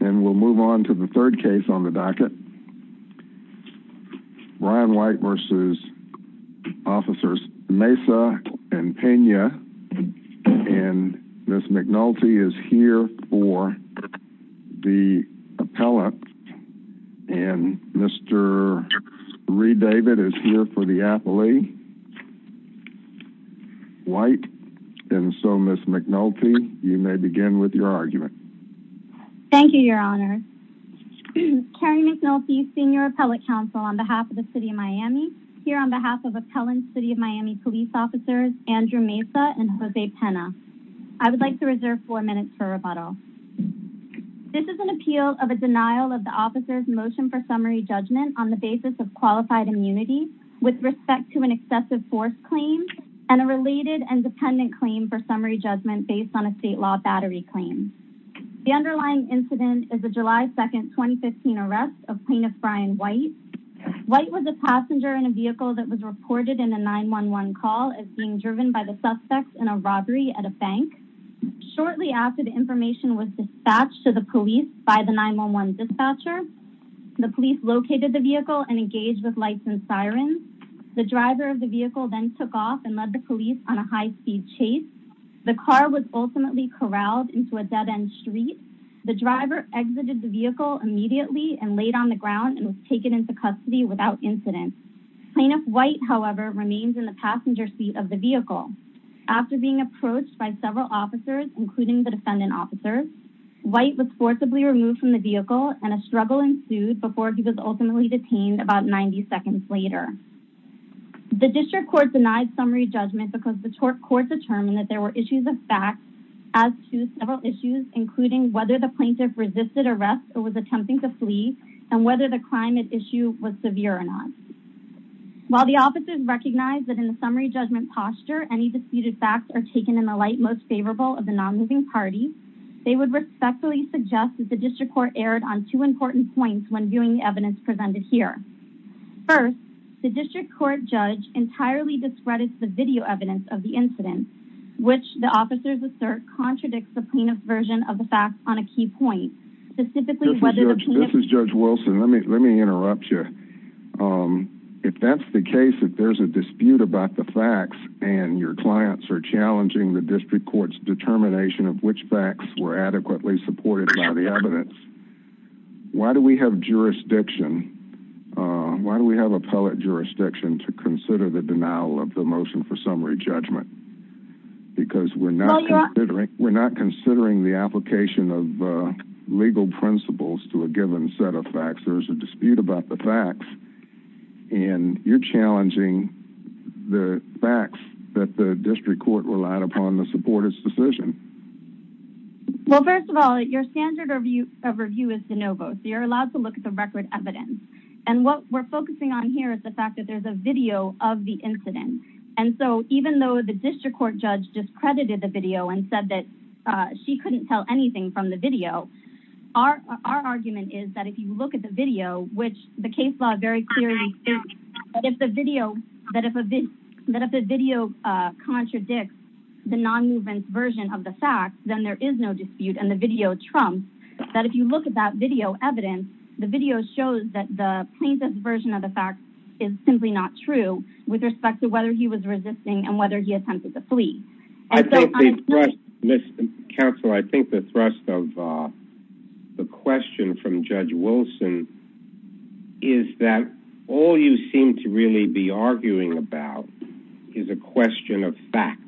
And we'll move on to the third case on the docket. Ryan White v. Officers Mesa and Pena. And Ms. McNulty is here for the appellate. And Mr. Reed David is here for the appellee. White. And so, Ms. McNulty, you may begin with your argument. Thank you, Your Honor. Carrie McNulty, Senior Appellate Counsel on behalf of the City of Miami, here on behalf of Appellant City of Miami Police Officers Andrew Mesa and Jose Pena. I would like to reserve four minutes for rebuttal. This is an appeal of a denial of the officer's motion for summary judgment on the basis of qualified immunity with respect to an excessive force claim and a related and dependent claim for summary judgment based on a state law battery claim. The underlying incident is a July 2, 2015 arrest of Plaintiff Ryan White. White was a passenger in a vehicle that was reported in a 911 call as being driven by the suspects in a robbery at a bank. Shortly after, the information was dispatched to the police by the 911 dispatcher. The police located the vehicle and engaged with The car was ultimately corralled into a dead-end street. The driver exited the vehicle immediately and laid on the ground and was taken into custody without incident. Plaintiff White, however, remains in the passenger seat of the vehicle. After being approached by several officers, including the defendant officers, White was forcibly removed from the vehicle and a struggle ensued before he was ultimately detained about 90 seconds later. The district court denied summary judgment because the court determined that there were issues of fact as to several issues, including whether the plaintiff resisted arrest or was attempting to flee and whether the crime at issue was severe or not. While the officers recognized that in the summary judgment posture, any disputed facts are taken in the light most favorable of the non-moving party, they would respectfully suggest that the district court erred on two important points when viewing the evidence presented here. First, the district court judge entirely discredits the video evidence of the incident, which the officers assert contradicts the plaintiff's version of the facts on a key point. This is Judge Wilson. Let me let me interrupt you. If that's the case, if there's a dispute about the facts and your clients are challenging the district court's determination of which facts were adequately supported by the evidence, why do we have jurisdiction? Why do we have appellate jurisdiction to consider the denial of the motion for summary judgment? Because we're not considering, we're not considering the application of legal principles to a given set of facts. There's a dispute about the facts and you're challenging the facts that the district court relied upon to support its decision. Well, first of all, your standard of review is de novo, so you're allowed to look at the record evidence. What we're focusing on here is the fact that there's a video of the incident. Even though the district court judge discredited the video and said that she couldn't tell anything from the video, our argument is that if you look at the non-movement version of the facts, then there is no dispute and the video trumps. That if you look at that video evidence, the video shows that the plaintiff's version of the facts is simply not true with respect to whether he was resisting and whether he attempted to flee. Mr. Counsel, I think the thrust of the question from Judge Wilson is that all you seem to really be arguing about is a question of fact,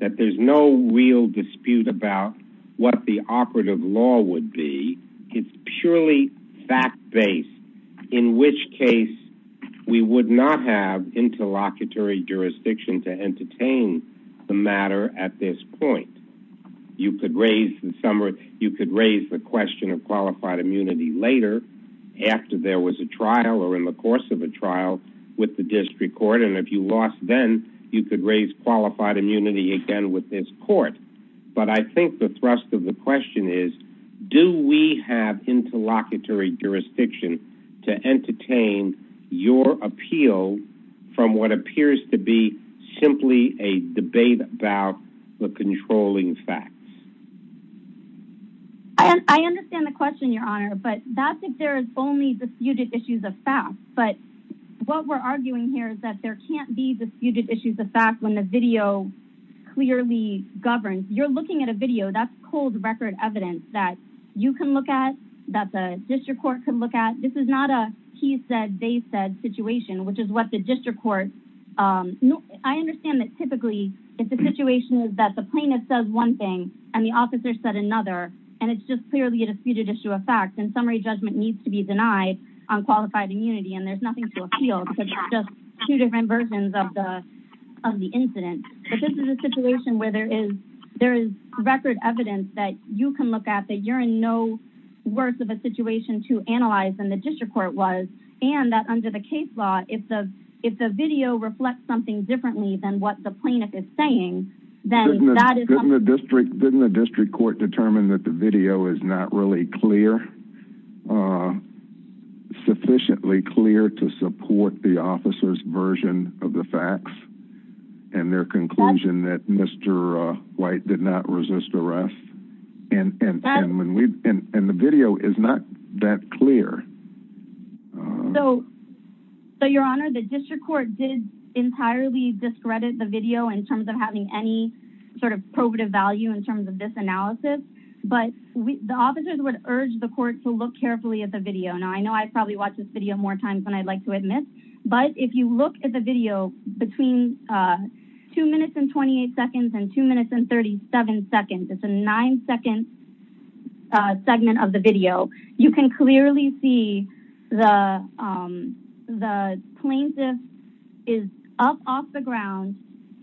that there's no real dispute about what the operative law would be. It's purely fact-based, in which case we would not have interlocutory jurisdiction to entertain the matter at this point. You could raise the summary, later, after there was a trial or in the course of a trial with the district court, and if you lost then, you could raise qualified immunity again with this court. I think the thrust of the question is, do we have interlocutory jurisdiction to entertain your appeal from what appears to be simply a debate about the controlling facts? I understand the question, Your Honor, but that's if there is only disputed issues of fact. But what we're arguing here is that there can't be disputed issues of fact when the video clearly governs. You're looking at a video. That's cold record evidence that you can look at, that the district court can look at. This is not a he said, they said situation, which is what the district court... I understand that typically, if the situation is that the officer said another, and it's just clearly a disputed issue of fact, then summary judgment needs to be denied on qualified immunity, and there's nothing to appeal to just two different versions of the incident. But this is a situation where there is record evidence that you can look at, that you're in no worse of a situation to analyze than the district court was, and that under the case law, if the video reflects something differently than what the plaintiff is saying, then that is... Didn't the district court determine that the video is not really clear, sufficiently clear to support the officer's version of the facts and their conclusion that Mr. White did not resist arrest? And the video is not that clear. So, your honor, the district court did entirely discredit the video in terms of having any sort of probative value in terms of this analysis, but the officers would urge the court to look carefully at the video. Now, I know I've probably watched this video more times than I'd like to admit, but if you look at the video between two minutes and 28 seconds and two minutes and 37 seconds, it's a nine-second segment of the video, you can clearly see the plaintiff is up off the ground.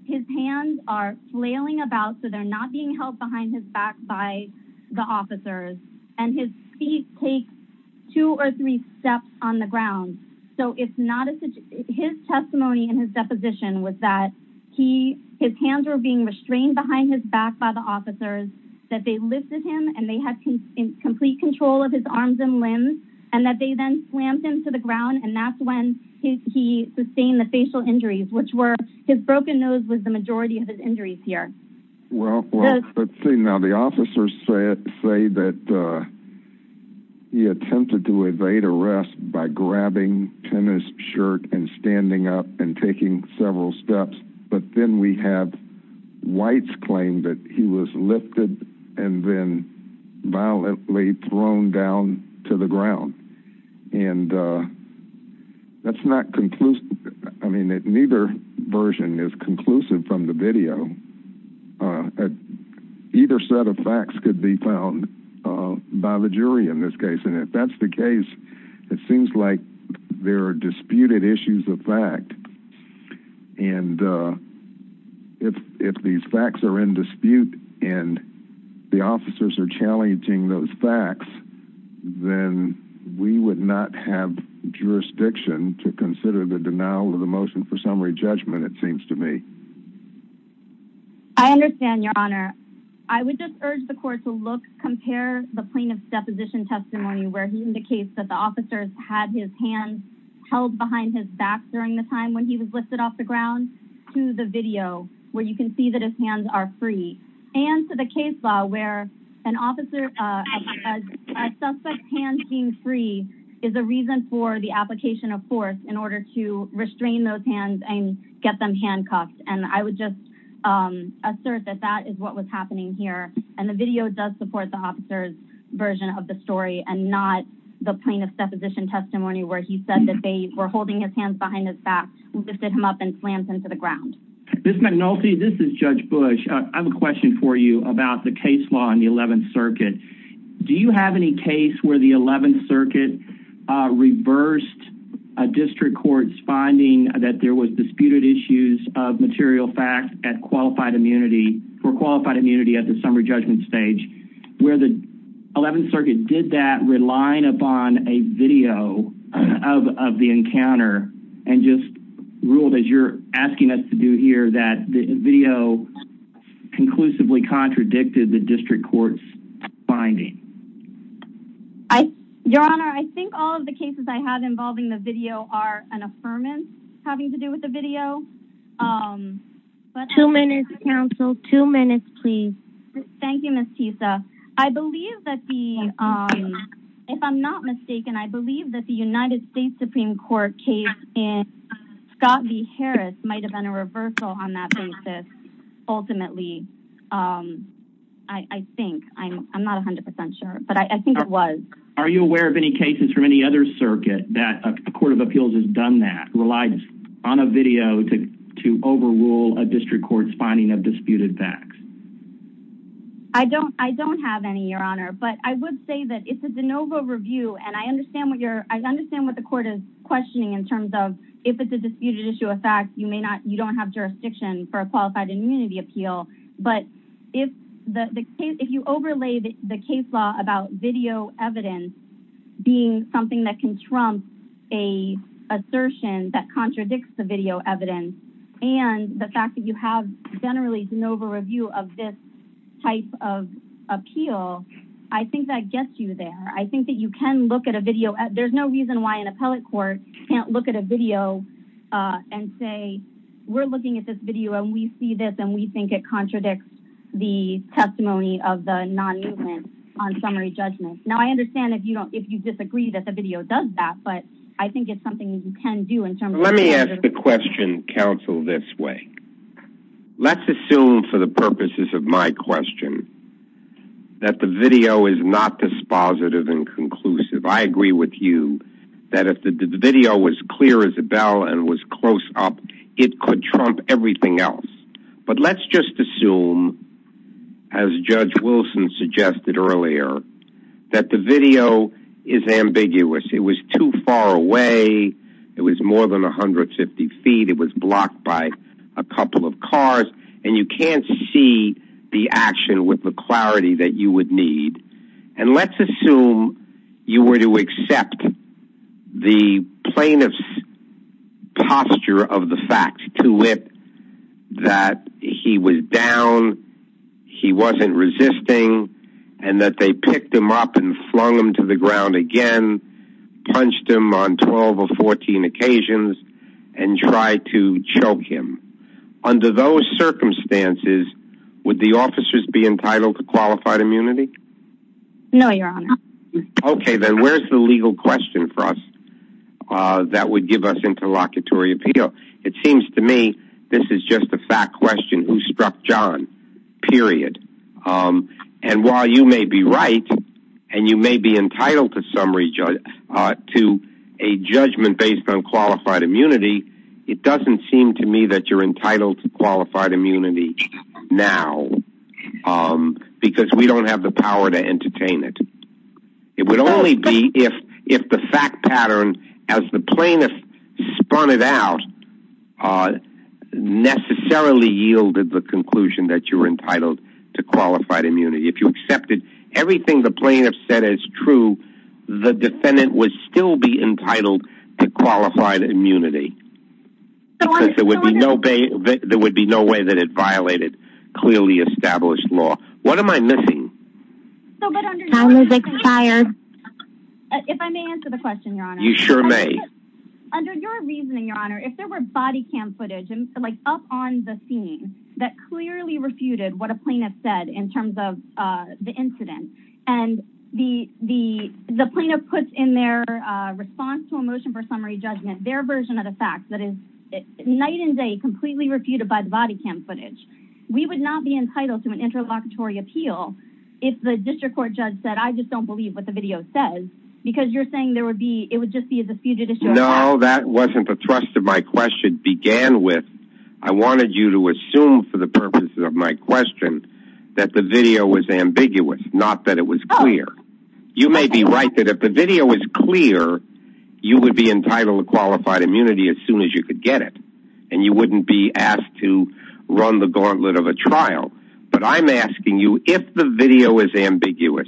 His hands are flailing about, so they're not being held behind his back by the officers, and his feet take two or three steps on the ground. So, his testimony in his back by the officers, that they lifted him and they had complete control of his arms and limbs, and that they then slammed him to the ground, and that's when he sustained the facial injuries, which were... His broken nose was the majority of his injuries here. Well, let's see. Now, the officers say that he attempted to evade arrest by grabbing tennis shirt and standing up and taking several steps, but then we have whites claim that he was lifted and then violently thrown down to the ground, and that's not conclusive. I mean, neither version is conclusive from the video. Either set of facts could be found by the jury in this case, and if that's the case, it seems like there are disputed issues of fact. And if these facts are in dispute and the officers are challenging those facts, then we would not have jurisdiction to consider the denial of the motion for summary judgment, it seems to me. I understand, Your Honor. I would just urge the court to look, compare the plaintiff's deposition testimony where he indicates that the officers had his hand held behind his back during the time when he was lifted off the ground to the video, where you can see that his hands are free, and to the case law where an officer... A suspect's hand being free is a reason for the application of force in order to restrain those hands and get them handcuffed, and I would just assert that that is what was happening here, and the video does support the officer's version of the story and not the plaintiff's deposition testimony where he said that they were holding his hands behind his back, lifted him up, and slammed him to the ground. Ms. McNulty, this is Judge Bush. I have a question for you about the case law in the 11th Circuit. Do you have any case where the 11th Circuit reversed a district court's finding that there was disputed issues of material fact for qualified immunity at the summary judgment stage, where the 11th Circuit did that relying upon a video of the encounter and just ruled, as you're asking us to do here, that the video conclusively contradicted the district court's finding? Your Honor, I think all of the cases I have involving the video are an opposite. Thank you, Ms. Tisa. If I'm not mistaken, I believe that the United States Supreme Court case in Scott v. Harris might have been a reversal on that basis, ultimately. I think. I'm not 100% sure, but I think it was. Are you aware of any cases from any other circuit that a court of appeals has done that, relied on a video to overrule a district court's finding of disputed facts? I don't have any, Your Honor, but I would say that it's a de novo review. I understand what the court is questioning in terms of if it's a disputed issue of fact, you don't have jurisdiction for a qualified immunity appeal, but if you overlay the case law about video evidence being something that can trump an assertion that contradicts the video evidence and the fact that you have generally de novo review of this type of appeal, I think that gets you there. I think that you can look at a video. There's no reason why an appellate court can't look at a video and say, we're looking at this video and we see this and we think it contradicts the testimony of the non-movement on summary judgment. Now, I understand if you disagree that the video does that, but I think it's something you can do in terms of- Let me ask the question, counsel, this way. Let's assume for the purposes of my question that the video is not dispositive and conclusive. I agree with you that if the video was clear as a bell and was close up, it could trump everything else. But it was more than 150 feet. It was blocked by a couple of cars and you can't see the action with the clarity that you would need. And let's assume you were to accept the plaintiff's posture of the fact to it that he was down, he wasn't resisting, and that they picked him up and flung him to the ground on 12 or 14 occasions and tried to choke him. Under those circumstances, would the officers be entitled to qualified immunity? No, your honor. Okay, then where's the legal question for us that would give us interlocutory appeal? It seems to me this is just a fact question who struck John, period. And while you may be right and you may be entitled to a judgment based on qualified immunity, it doesn't seem to me that you're entitled to qualified immunity now because we don't have the power to entertain it. It would only be if the fact pattern, as the plaintiff spun it out, necessarily yielded the conclusion that you were entitled to qualified immunity. If you accepted everything the plaintiff said as true, the defendant would still be entitled to qualified immunity because there would be no way that it violated clearly established law. What am I missing? Time has expired. If I may answer the question, your honor. You sure may. Under your reasoning, your honor, if there were body cam footage up on the scene that clearly refuted what a plaintiff said in terms of the incident and the plaintiff puts in their response to a motion for summary judgment their version of the fact that is night and day completely refuted by the body cam footage. We would not be entitled to an interlocutory appeal if the district court judge said I just don't believe what the video says because you're saying there would be it would just be the fugitive. No, that wasn't the thrust of my question began with. I wanted you to assume for the purposes of my question that the video was ambiguous, not that it was clear. You may be right that if the video was clear, you would be entitled to qualified immunity as soon as you could get it and you wouldn't be asked to run the gauntlet of a trial. But I'm asking you if the video is ambiguous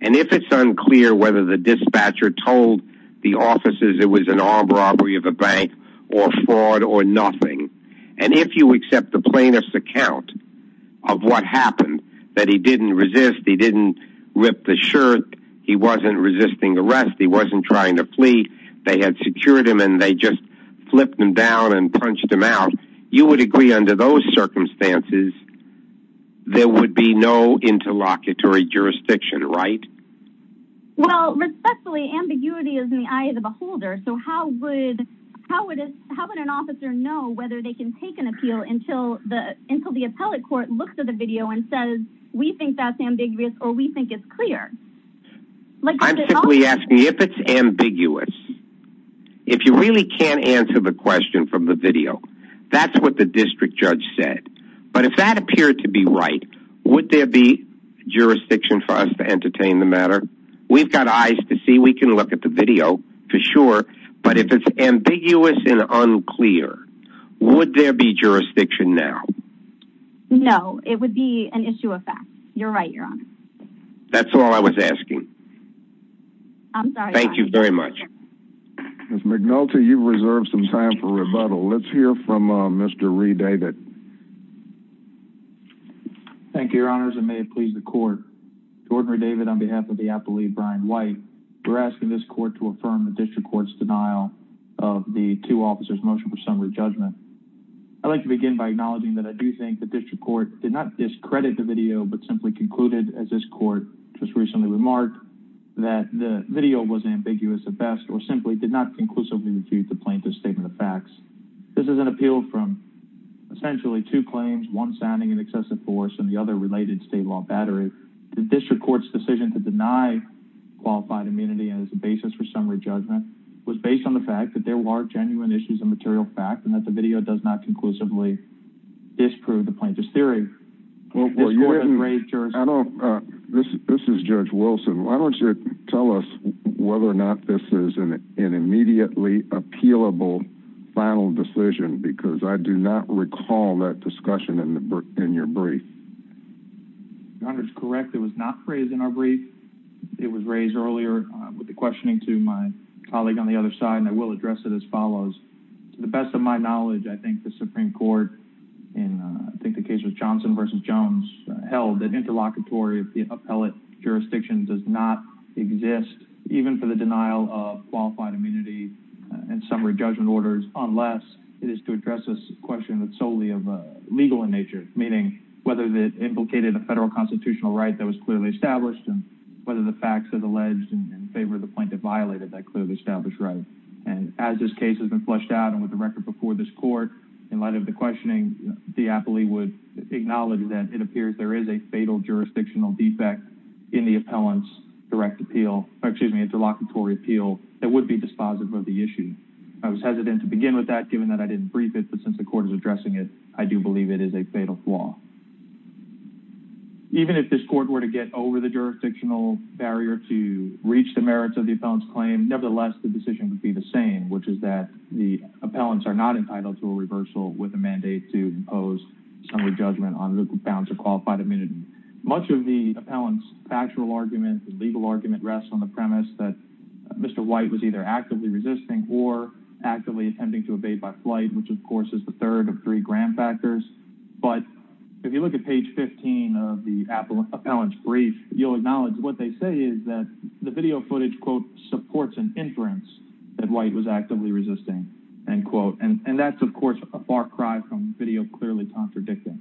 and if it's unclear whether the dispatcher told the officers it was an armed robbery of a bank or fraud or nothing and if you accept the plaintiff's account of what happened that he didn't resist, he didn't rip the shirt, he wasn't resisting arrest, he wasn't trying to flee. They had secured him and they just flipped him down and punched him out. You would agree under those circumstances there would be no interlocutory jurisdiction, right? Well, respectfully, ambiguity is in the eyes of a holder. So how would how would how would an officer know whether they can take an appeal until the until the appellate court looks at the video and says we think that's ambiguous? If you really can't answer the question from the video, that's what the district judge said. But if that appeared to be right, would there be jurisdiction for us to entertain the matter? We've got eyes to see. We can look at the video for sure, but if it's ambiguous and unclear, would there be jurisdiction now? No, it would be an issue of fact. You're right, Your Honor. That's all I was asking. I'm sorry. Thank you very much. Ms. McNulty, you've reserved some time for rebuttal. Let's hear from Mr. Reed David. Thank you, Your Honors, and may it please the court. Jordan Reed David on behalf of the appellee, Brian White, we're asking this court to affirm the district court's denial of the two officers' motion for summary judgment. I'd like to begin by acknowledging that I do think the district court did not discredit the video but simply concluded, as this court just recently remarked, that the video was ambiguous at best or simply did not conclusively refute the plaintiff's statement of facts. This is an appeal from essentially two claims, one sounding an excessive force and the other related state law battery. The district court's decision to deny qualified immunity as a basis for summary judgment was based on the fact that there were genuine issues of material fact and that the video does not conclusively disprove the plaintiff's theory. This is Judge Wilson. Why don't you tell us whether or not this is an immediately appealable final decision because I do not recall that discussion in your brief. Your Honor, it's correct. It was not raised in our brief. It was raised earlier with the best of my knowledge. I think the Supreme Court, in I think the case was Johnson v. Jones, held that interlocutory appellate jurisdiction does not exist even for the denial of qualified immunity and summary judgment orders unless it is to address this question that's solely of a legal in nature, meaning whether it implicated a federal constitutional right that was clearly established and whether the facts are alleged in favor of the plaintiff violated that clearly established right. As this case has been flushed out and with the record before this court, in light of the questioning, the appellee would acknowledge that it appears there is a fatal jurisdictional defect in the appellant's direct appeal, excuse me, interlocutory appeal that would be dispositive of the issue. I was hesitant to begin with that given that I didn't brief it, but since the court is addressing it, I do believe it is a fatal flaw. Even if this court were to get over the jurisdictional barrier to reach the merits of the appellant's claim, nevertheless, the decision would be the same, which is that the appellants are not entitled to a reversal with a mandate to impose summary judgment on the grounds of qualified immunity. Much of the appellant's factual argument, the legal argument, rests on the premise that Mr. White was either actively resisting or actively attempting to evade by flight, which of course is the third of three grand factors. But if you look at page 15 of the appellant's brief, you'll acknowledge what they say is that the video footage, quote, supports an inference that White was actively resisting, end quote. And that's, of course, a far cry from video clearly contradicting.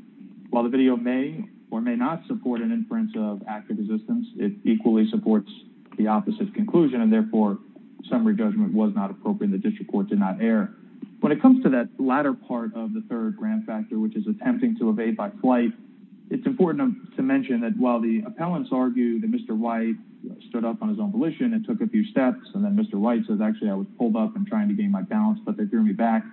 While the video may or may not support an inference of active resistance, it equally supports the opposite conclusion, and therefore summary judgment was not appropriate and the district court did not err. When it comes to that latter part of the third grand factor, which is attempting to evade by flight, it's important to mention that while the appellants argued that Mr. White stood up on his own volition and took a few steps, and then Mr. White says, actually, I was pulled up and trying to gain my balance, but they threw me back.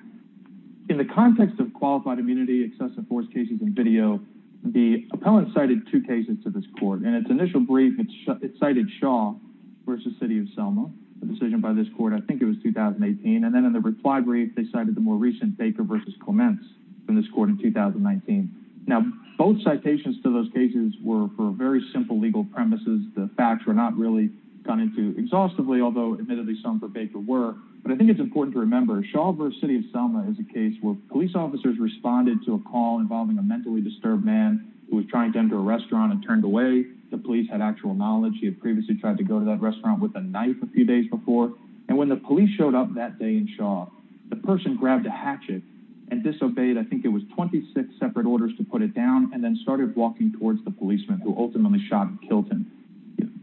In the context of qualified immunity, excessive force cases, and video, the appellant cited two cases to this court. In its initial brief, it cited Shaw versus City of Selma, a decision by this court, I think it was 2018. And then in the reply brief, they cited the more recent Baker versus Clements from this court in 2019. Now, both citations to those cases were for very simple legal premises. The facts were not really gone into exhaustively, although admittedly some for Baker were. But I think it's important to remember Shaw versus City of Selma is a case where police officers responded to a call involving a mentally disturbed man who was trying to enter a restaurant and turned away. The police had actual knowledge. He had previously tried to go to that restaurant with a knife a few days before. And when the police showed up that day in Shaw, the person grabbed a hatchet and disobeyed, I think it was 26 separate orders to put it down, and then started walking towards the policeman who ultimately shot and killed him.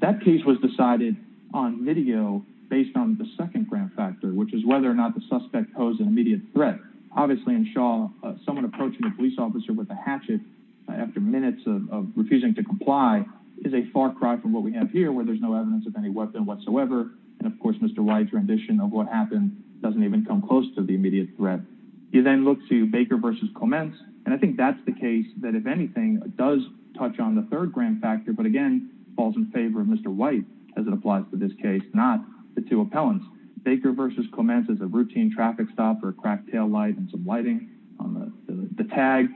That case was decided on video based on the second grand factor, which is whether or not the suspect posed an immediate threat. Obviously in Shaw, someone approaching a police officer with a hatchet after minutes of refusing to comply is a far cry from what we have here where there's no evidence of any weapon whatsoever. And of course, Mr. Wright's rendition of what happened doesn't even come close to the immediate threat. You then look to Baker versus Clements, and I think that's the case that if anything does touch on the third grand factor, but again, falls in favor of Mr. White as it applies to this case, not the two appellants. Baker versus Clements is a routine traffic stop for a cracked taillight and some lighting on the tag.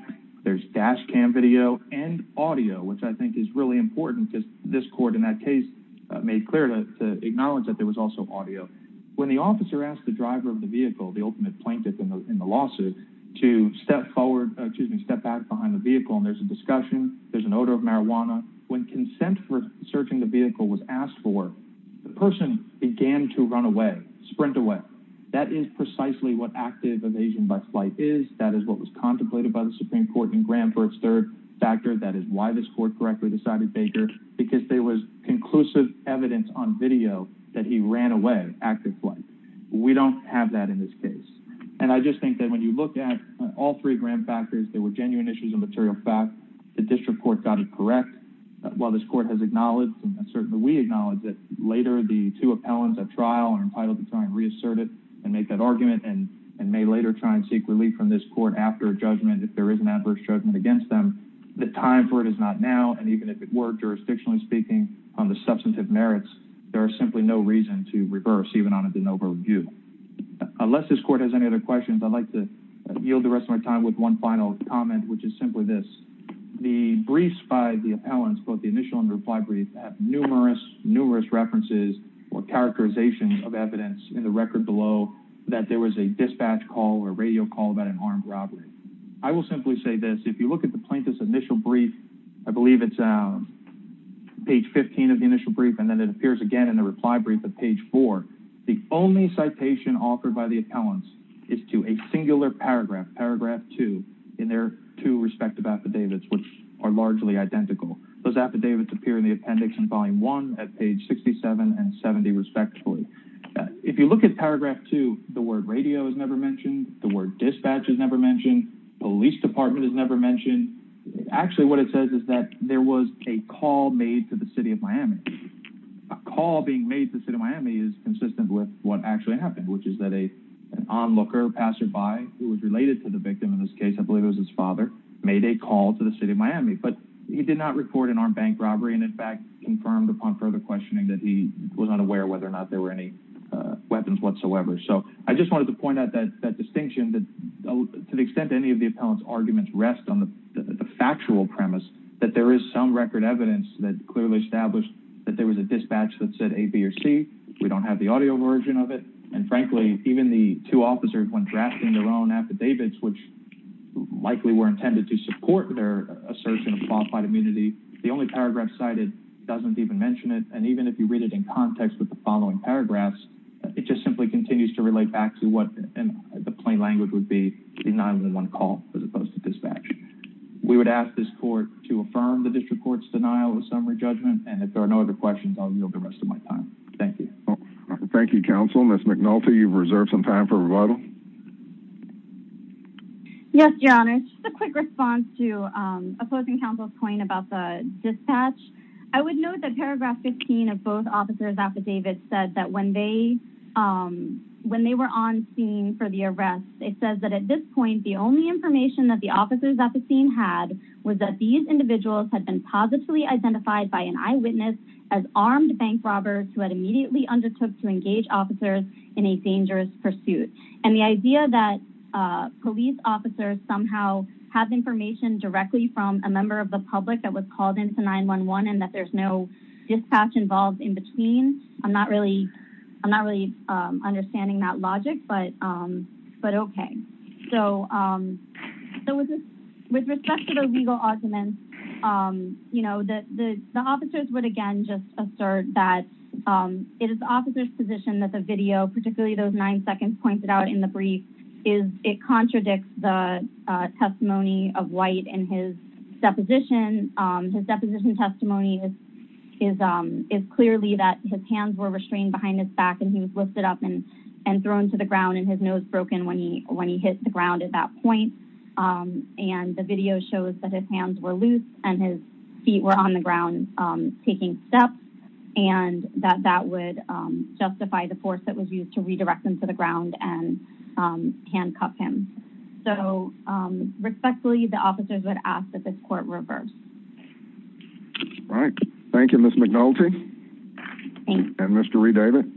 There's dash cam video and audio, which I think is really important, just this court in that case made clear to acknowledge that there was also audio. When the officer asked the driver of the vehicle, the ultimate plaintiff in the lawsuit, to step forward, excuse me, step back behind the vehicle, and there's a discussion, there's an odor of marijuana. When consent for searching the vehicle was asked for, the person began to run away, sprint away. That is precisely what active evasion by flight is. That is what was contemplated by the Supreme Court in grand for its third factor. That is why this court correctly decided Baker, because there was conclusive evidence on video that he ran away, active flight. We don't have that in this case. I just think that when you look at all three grand factors, they were genuine issues of material fact. The district court got it correct. While this court has acknowledged and certainly we acknowledge that later the two appellants at trial are entitled to try and reassert it and make that argument and may later try and seek relief from this court after a judgment if there is an adverse judgment against them, the time for it is not now. Even if it were, jurisdictionally speaking, on the substantive merits, there is simply no reason to reverse even on a de novo view. Unless this court has any other questions, I'd like to yield the rest of my time with one final comment, which is simply this. The briefs by the appellants, both the initial and reply brief, have numerous, numerous references or characterizations of evidence in the record below that there was a dispatch call or radio call about an armed robbery. I will simply say this. If you look at the plaintiff's initial brief, I believe it's page 15 of the initial brief and then it appears again in the reply brief at page four, the only citation offered by the appellants is to a singular paragraph, paragraph two, in their two respective affidavits, which are largely identical. Those affidavits appear in the appendix in volume one at page 67 and 70, respectively. If you look at paragraph two, the word radio is never mentioned, the word dispatch is never mentioned, police department is never mentioned. Actually, what it says is that there was a call made to the city of Miami. A call being made to the city of Miami is consistent with what actually happened, which is that an onlooker, passerby, who was related to the victim in this case, I believe it was his father, made a call to the city of Miami, but he did not report an armed bank robbery and in fact confirmed upon further questioning that he was unaware whether or not there were any weapons whatsoever. I just wanted to point out that distinction, that to the extent any of the appellant's arguments rest on the factual premise that there is some record evidence that clearly established that there was a dispatch that said A, B, or C. We don't have the audio version of it and frankly, even the two officers when drafting their own affidavits, which likely were intended to support their assertion of qualified immunity, the only paragraph cited doesn't even mention it and even if you read it in context with the following paragraphs, it just simply continues to relate back to what in the plain language would be a 911 call as opposed to dispatch. We would ask this court to affirm the district court's denial of summary judgment and if there are no other questions, I'll yield the rest of my time. Thank you. Thank you, counsel. Ms. McNulty, you've reserved some time for rebuttal. Yes, your honor. Just a quick response to opposing counsel's point about the affidavits said that when they were on scene for the arrest, it says that at this point, the only information that the officers at the scene had was that these individuals had been positively identified by an eyewitness as armed bank robbers who had immediately undertook to engage officers in a dangerous pursuit and the idea that police officers somehow have information directly from a member of the public that was called into 911 and that there's no involved in between, I'm not really understanding that logic, but okay. With respect to the legal arguments, the officers would again just assert that it is the officer's position that the video, particularly those nine seconds pointed out in the brief, it contradicts the testimony of White and his deposition. His deposition testimony is clearly that his hands were restrained behind his back and he was lifted up and thrown to the ground and his nose broken when he hit the ground at that point. The video shows that his hands were loose and his feet were on the ground taking steps and that that would justify the force that was used to redirect him to the ground and handcuff him. Respectfully, the officers would ask that Thank you, Ms. McNulty and Mr. Redavid.